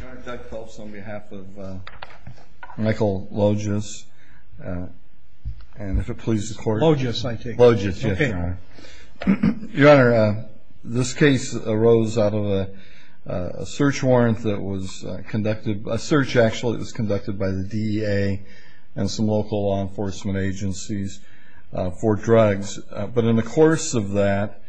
Your Honor, Doug Phelps on behalf of Michael Lojas, and if it pleases the court Lojas, I take it? Lojas, yes, Your Honor Okay Your Honor, this case arose out of a search warrant that was conducted A search actually that was conducted by the DEA and some local law enforcement agencies for drugs But in the course of that,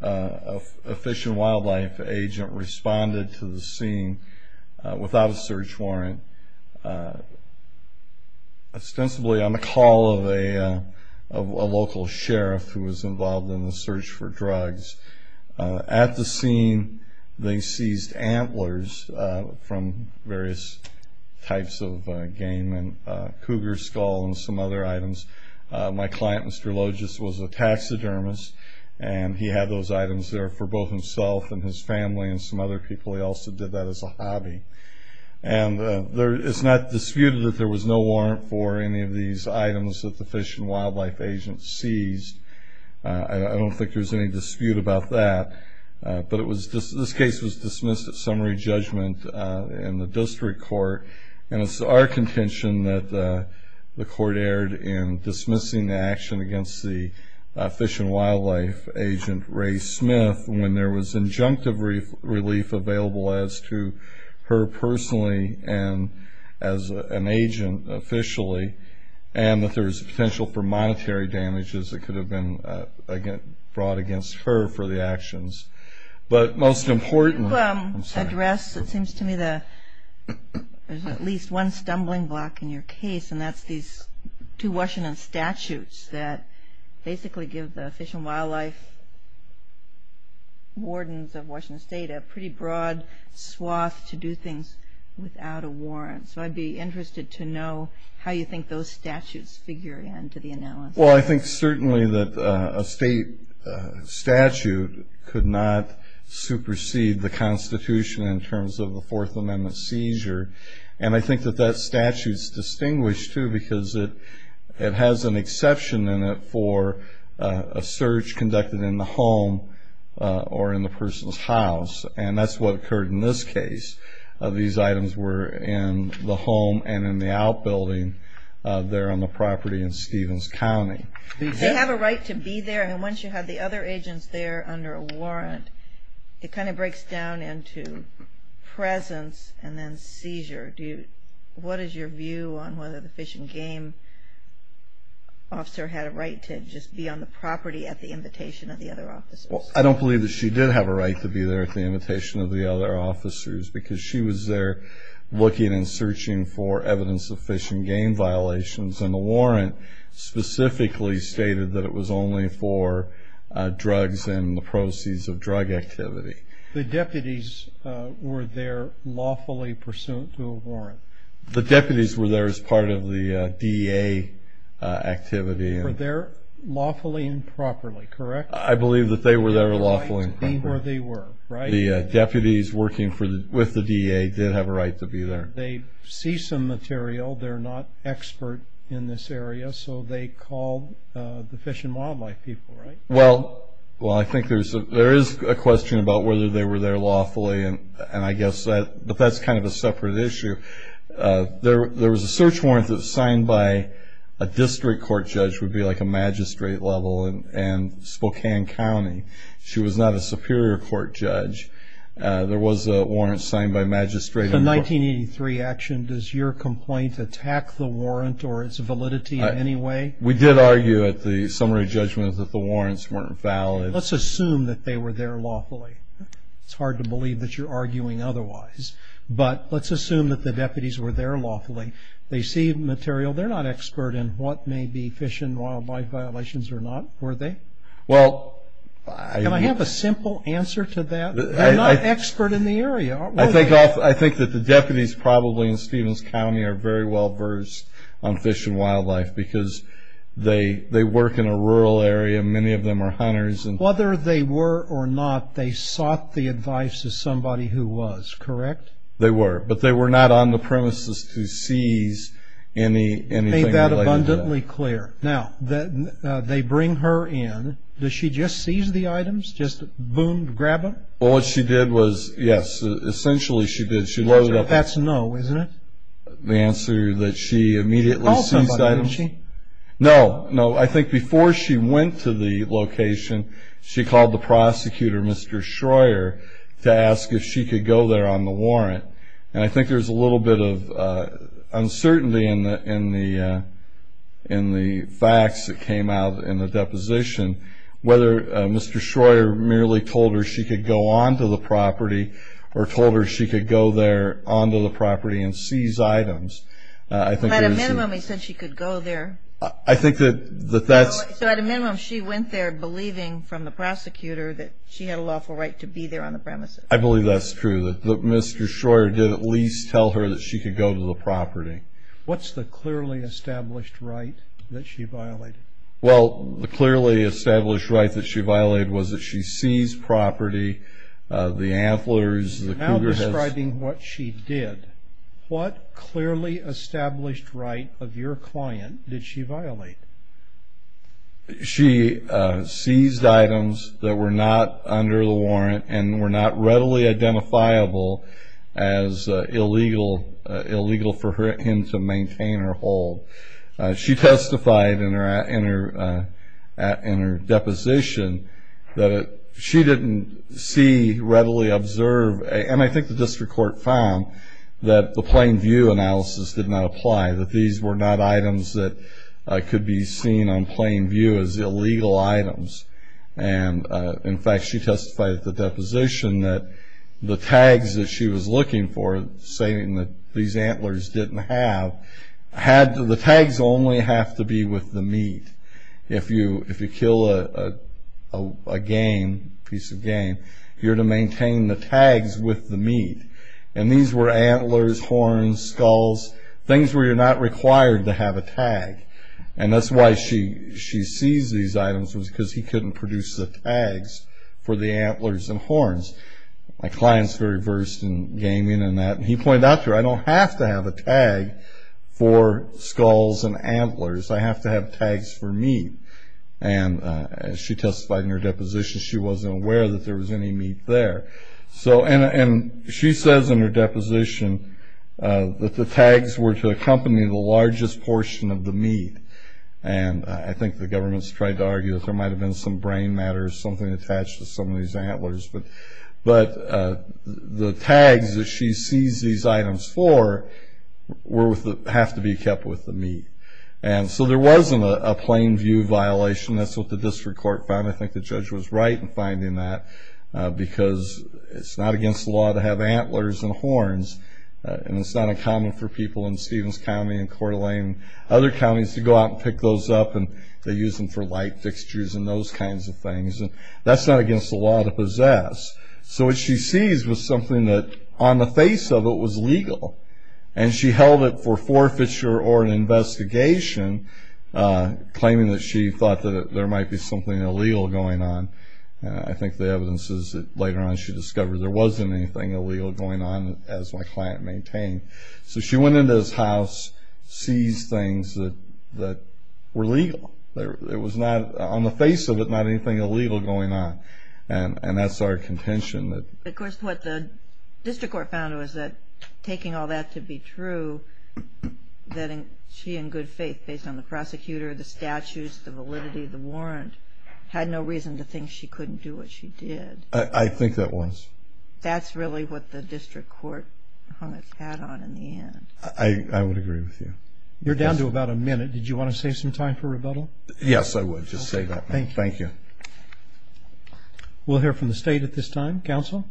a Fish and Wildlife agent responded to the scene without a search warrant Ostensibly on the call of a local sheriff who was involved in the search for drugs At the scene, they seized antlers from various types of game and cougar skull and some other items My client, Mr. Lojas, was a taxidermist, and he had those items there for both himself and his family And some other people, he also did that as a hobby And it's not disputed that there was no warrant for any of these items that the Fish and Wildlife agent seized I don't think there's any dispute about that But this case was dismissed at summary judgment in the district court And it's our contention that the court erred in dismissing the action against the Fish and Wildlife agent, Rae Smith When there was injunctive relief available as to her personally and as an agent officially And that there was potential for monetary damages that could have been brought against her for the actions You address, it seems to me, at least one stumbling block in your case And that's these two Washington statutes that basically give the Fish and Wildlife wardens of Washington State A pretty broad swath to do things without a warrant So I'd be interested to know how you think those statutes figure into the analysis Well, I think certainly that a state statute could not supersede the Constitution In terms of the Fourth Amendment seizure And I think that that statute's distinguished too Because it has an exception in it for a search conducted in the home or in the person's house And that's what occurred in this case These items were in the home and in the outbuilding there on the property in Stevens County They have a right to be there, and once you have the other agents there under a warrant It kind of breaks down into presence and then seizure What is your view on whether the Fish and Game officer had a right to just be on the property at the invitation of the other officers? I don't believe that she did have a right to be there at the invitation of the other officers Because she was there looking and searching for evidence of Fish and Game violations And the warrant specifically stated that it was only for drugs and the proceeds of drug activity The deputies were there lawfully pursuant to a warrant? The deputies were there as part of the DA activity Were there lawfully and properly, correct? I believe that they were there lawfully and properly They had a right to be where they were, right? The deputies working with the DA did have a right to be there They see some material, they're not expert in this area So they called the Fish and Wildlife people, right? Well, I think there is a question about whether they were there lawfully And I guess that's kind of a separate issue There was a search warrant that was signed by a district court judge Which would be like a magistrate level in Spokane County She was not a superior court judge There was a warrant signed by a magistrate The 1983 action, does your complaint attack the warrant or its validity in any way? We did argue at the summary judgment that the warrants weren't valid Let's assume that they were there lawfully It's hard to believe that you're arguing otherwise But let's assume that the deputies were there lawfully They see material, they're not expert in what may be Fish and Wildlife violations or not, were they? Well, I... Can I have a simple answer to that? They're not expert in the area, are they? I think that the deputies probably in Stephens County Are very well versed on Fish and Wildlife Because they work in a rural area, many of them are hunters Whether they were or not, they sought the advice of somebody who was, correct? They were, but they were not on the premises to seize anything related to that Make that abundantly clear Now, they bring her in Does she just seize the items? Just boom, grab them? Well, what she did was... Yes, essentially she did She loaded up... That's a no, isn't it? The answer that she immediately seized items... She called somebody, didn't she? No, no, I think before she went to the location She called the prosecutor, Mr. Shroyer To ask if she could go there on the warrant And I think there's a little bit of uncertainty In the facts that came out in the deposition Whether Mr. Shroyer merely told her she could go onto the property Or told her she could go there onto the property and seize items At a minimum, he said she could go there I think that that's... So at a minimum, she went there believing from the prosecutor That she had a lawful right to be there on the premises I believe that's true That Mr. Shroyer did at least tell her that she could go to the property What's the clearly established right that she violated? Well, the clearly established right that she violated Was that she seized property, the antlers, the cougar heads... Now describing what she did What clearly established right of your client did she violate? She seized items that were not under the warrant And were not readily identifiable as illegal Illegal for him to maintain or hold She testified in her deposition That she didn't see, readily observe And I think the district court found That the plain view analysis did not apply That these were not items that could be seen on plain view As illegal items And in fact, she testified at the deposition That the tags that she was looking for Saying that these antlers didn't have The tags only have to be with the meat If you kill a piece of game You're to maintain the tags with the meat And these were antlers, horns, skulls Things where you're not required to have a tag And that's why she seized these items Was because he couldn't produce the tags For the antlers and horns My client's very versed in gaming and that He pointed out to her I don't have to have a tag for skulls and antlers I have to have tags for meat And she testified in her deposition She wasn't aware that there was any meat there And she says in her deposition That the tags were to accompany The largest portion of the meat And I think the government's tried to argue That there might have been some brain matter Something attached to some of these antlers But the tags that she seized these items for Have to be kept with the meat And so there wasn't a plain view violation That's what the district court found I think the judge was right in finding that Because it's not against the law To have antlers and horns And it's not uncommon for people In Stevens County and Coeur d'Alene Other counties to go out and pick those up And they use them for light fixtures And those kinds of things And that's not against the law to possess So what she seized was something that On the face of it was legal And she held it for forfeiture or an investigation Claiming that she thought That there might be something illegal going on I think the evidence is that later on She discovered there wasn't Anything illegal going on As my client maintained So she went into his house Seized things that were legal It was not, on the face of it Not anything illegal going on And that's our contention Of course what the district court found Was that taking all that to be true That she in good faith Based on the prosecutor, the statutes The validity of the warrant Had no reason to think She couldn't do what she did I think that was That's really what the district court Had on in the end I would agree with you You're down to about a minute Did you want to save some time for rebuttal? Yes I would, just save that Thank you We'll hear from the state at this time Counsel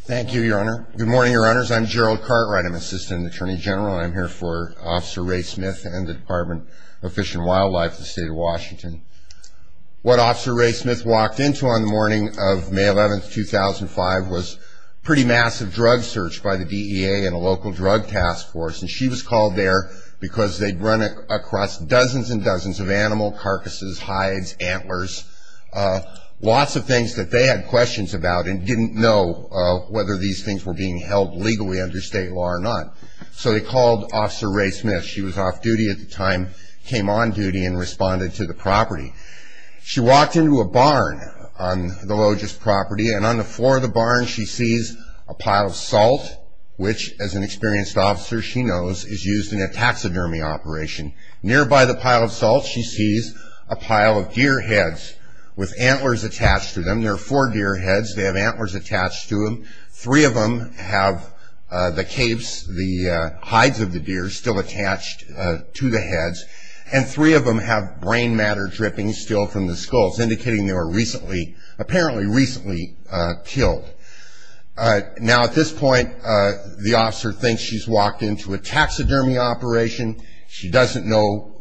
Thank you your honor Good morning your honors I'm Gerald Cartwright I'm Assistant Attorney General I'm here for Officer Ray Smith And the Department of Fish and Wildlife Of the State of Washington What Officer Ray Smith walked into On the morning of May 11, 2005 Was a pretty massive drug search By the DEA and a local drug task force And she was called there Because they'd run across Dozens and dozens of animal carcasses Hides, antlers Lots of things that they had questions about And didn't know Whether these things were being held Legally under state law or not So they called Officer Ray Smith She was off duty at the time Came on duty and responded to the property She walked into a barn On the logist property And on the floor of the barn She sees a pile of salt Which as an experienced officer She knows is used in a taxidermy operation Nearby the pile of salt She sees a pile of deer heads With antlers attached to them There are four deer heads They have antlers attached to them Three of them have the capes The hides of the deer Antlers still attached to the heads And three of them have brain matter Dripping still from the skulls Indicating they were recently Apparently recently killed Now at this point The officer thinks she's walked into A taxidermy operation She doesn't know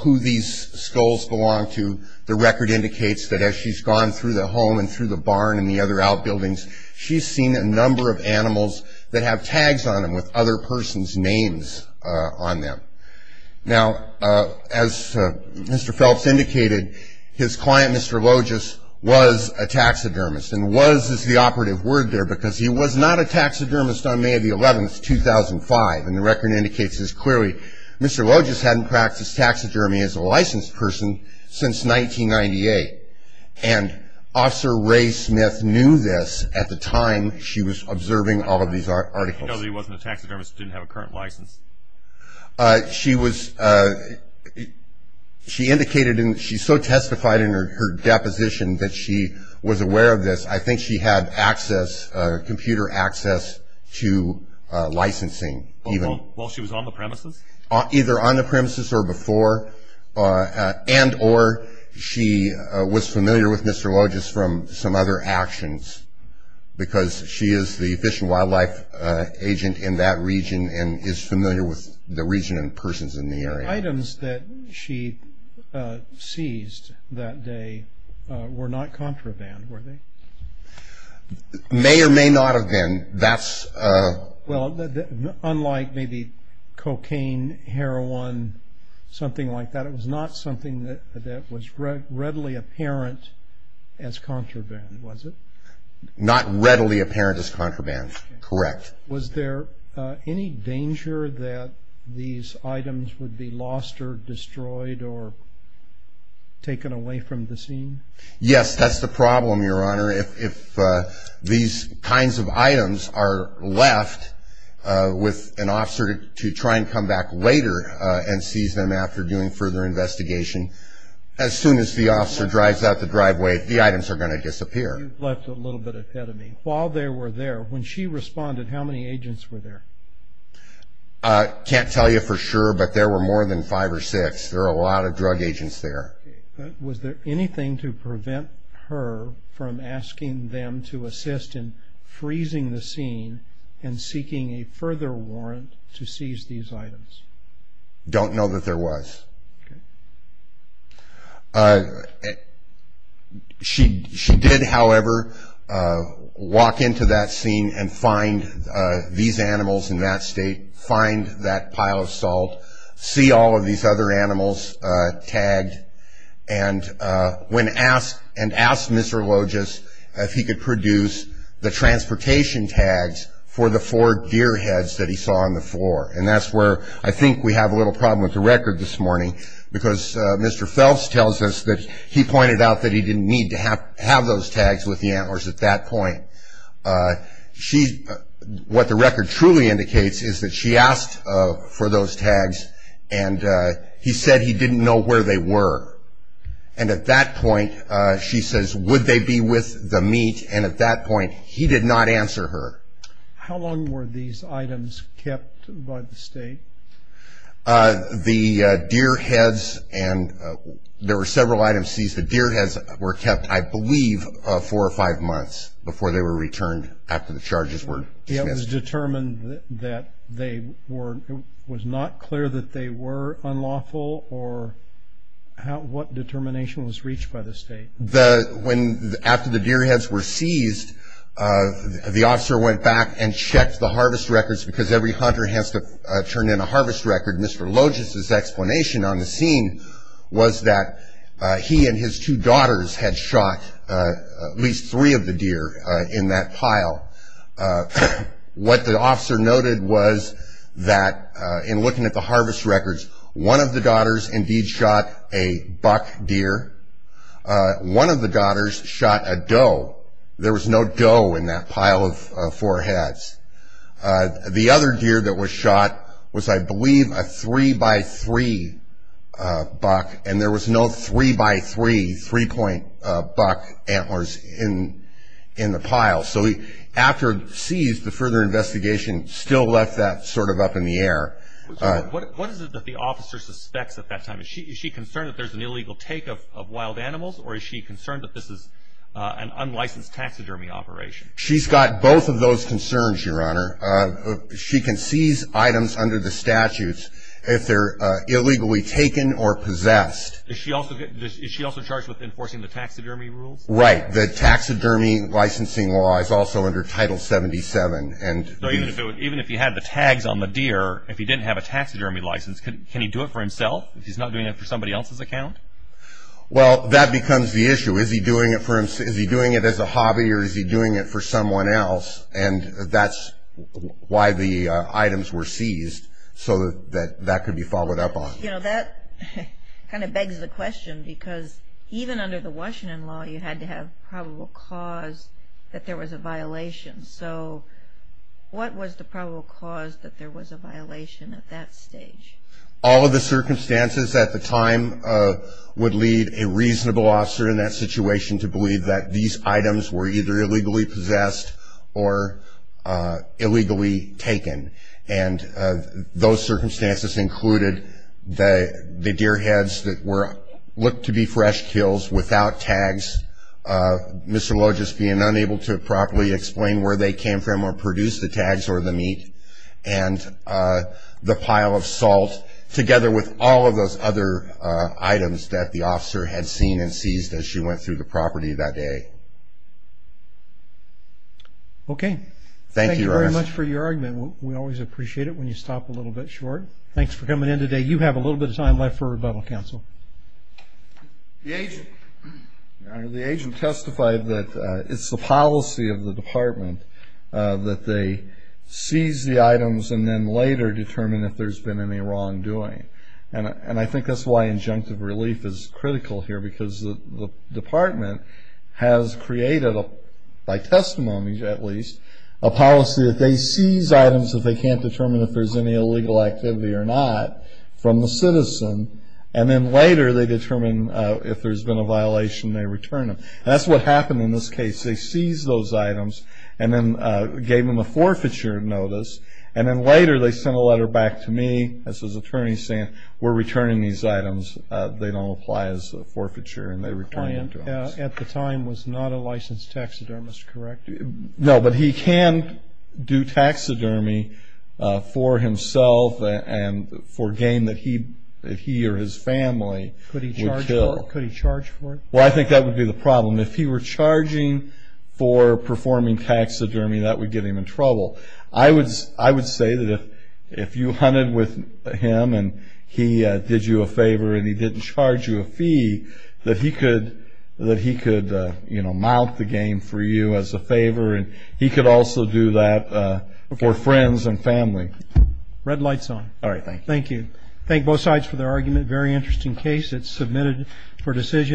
who these Skulls belong to The record indicates that as she's gone Through the home and through the barn And the other outbuildings She's seen a number of animals That have tags on them With other person's names on them Now As Mr. Phelps indicated His client Mr. Logist Was a taxidermist And was is the operative word there Because he was not a taxidermist On May 11, 2005 And the record indicates this clearly Mr. Logist hadn't practiced taxidermy As a licensed person since 1998 And Officer Ray Smith Knew this at the time She was observing all of these articles So he wasn't a taxidermist Didn't have a current license She was She indicated She so testified in her deposition That she was aware of this I think she had access Computer access To licensing While she was on the premises Either on the premises or before And or She was familiar with Mr. Logist From some other actions Because she is the Fish and wildlife agent In that region and is familiar With the region and persons in the area Items that she Seized that day Were not contraband Were they? May or may not have been That's Unlike maybe cocaine Heroin Something like that That was not something that Was readily apparent As contraband was it? Not readily apparent as contraband Correct Was there any danger that These items would be lost Or destroyed or Taken away from the scene? Yes that's the problem Your Honor If These kinds of items are left With an officer To try and come back later And seize them after doing further Investigation As soon as the officer drives out the driveway The items are going to disappear You've left a little bit ahead of me While they were there when she responded How many agents were there? I can't tell you for sure But there were more than five or six There were a lot of drug agents there Was there anything to prevent her From asking them to assist In freezing the scene And seeking a further warrant To seize these items? Don't know that there was Okay She did however Walk into that scene And find these animals In that state Find that pile of salt See all of these other animals Tagged And ask Mr. Loges If he could produce The transportation tags For the four deer heads That he saw on the floor And that's where I think we have a little problem With the record this morning Because Mr. Phelps tells us That he pointed out that he didn't need To have those tags with the antlers At that point What the record truly indicates Is that she asked for those tags And he said he didn't know Where they were And at that point She says would they be with the meat And at that point He did not answer her How long were these items kept By the state? The deer heads There were several items seized The deer heads were kept I believe four or five months Before they were returned After the charges were dismissed It was determined That it was not clear That they were unlawful Or what determination Was reached by the state After the deer heads were seized The officer went back And checked the harvest records Because every hunter has to turn in A harvest record Mr. Loges' explanation on the scene Was that he and his two daughters Had shot At least three of the deer In that pile What the officer noted was That in looking at the harvest records One of the daughters Indeed shot a buck deer One of the daughters Shot a doe There was no doe in that pile Of four heads The other deer that was shot Was I believe a three by three Buck And there was no three by three Three point buck antlers In the pile So after it was seized The further investigation still left that Sort of up in the air What is it that the officer Suspects at that time? Is she concerned that there's an illegal take of wild animals Or is she concerned that this is An unlicensed taxidermy operation? She's got both of those concerns, your honor She can seize Items under the statutes If they're illegally taken Or possessed Is she also charged with enforcing the taxidermy rules? Right, the taxidermy Licensing law is also under Title 77 Even if you had The tags on the deer If he didn't have a taxidermy license Can he do it for himself? If he's not doing it for somebody else's account? Well, that becomes the issue Is he doing it as a hobby Or is he doing it for someone else? And that's why the items were seized So that could be followed up on You know, that Kind of begs the question Because even under the Washington law You had to have probable cause That there was a violation So what was the probable cause That there was a violation At that stage? All of the circumstances at the time Would lead a reasonable officer In that situation to believe that These items were either illegally possessed Or Illegally taken And those circumstances Included the deer heads That looked to be fresh kills Without tags Mr. Loges being unable to Properly explain where they came from Or produce the tags or the meat And the pile of salt Together with all of those Other items that the Officer had seen and seized as she went Through the property that day Okay Thank you very much for your argument We always appreciate it when you stop A little bit short Thanks for coming in today You have a little bit of time left for rebuttal counsel The agent testified That it's the policy Of the department That they seize the items And then later determine if there's been Any wrongdoing And I think that's why injunctive relief Is critical here because the department Has created By testimony at least A policy that they seize Items if they can't determine if there's any Illegal activity or not From the citizen And then later they determine If there's been a violation And they return them That's what happened in this case They seized those items And then gave them a forfeiture notice And then later they sent a letter back to me As his attorney saying We're returning these items They don't apply as a forfeiture And they return them to us The client at the time was not a licensed taxidermist Correct? No but he can do taxidermy For himself and for gain If he or his family Would kill Could he charge for it? Well I think that would be the problem If he were charging for performing taxidermy That would get him in trouble I would say If you hunted with him And he did you a favor And he didn't charge you a fee That he could Mount the game for you As a favor And he could also do that For friends and family Red lights on Thank you Thank you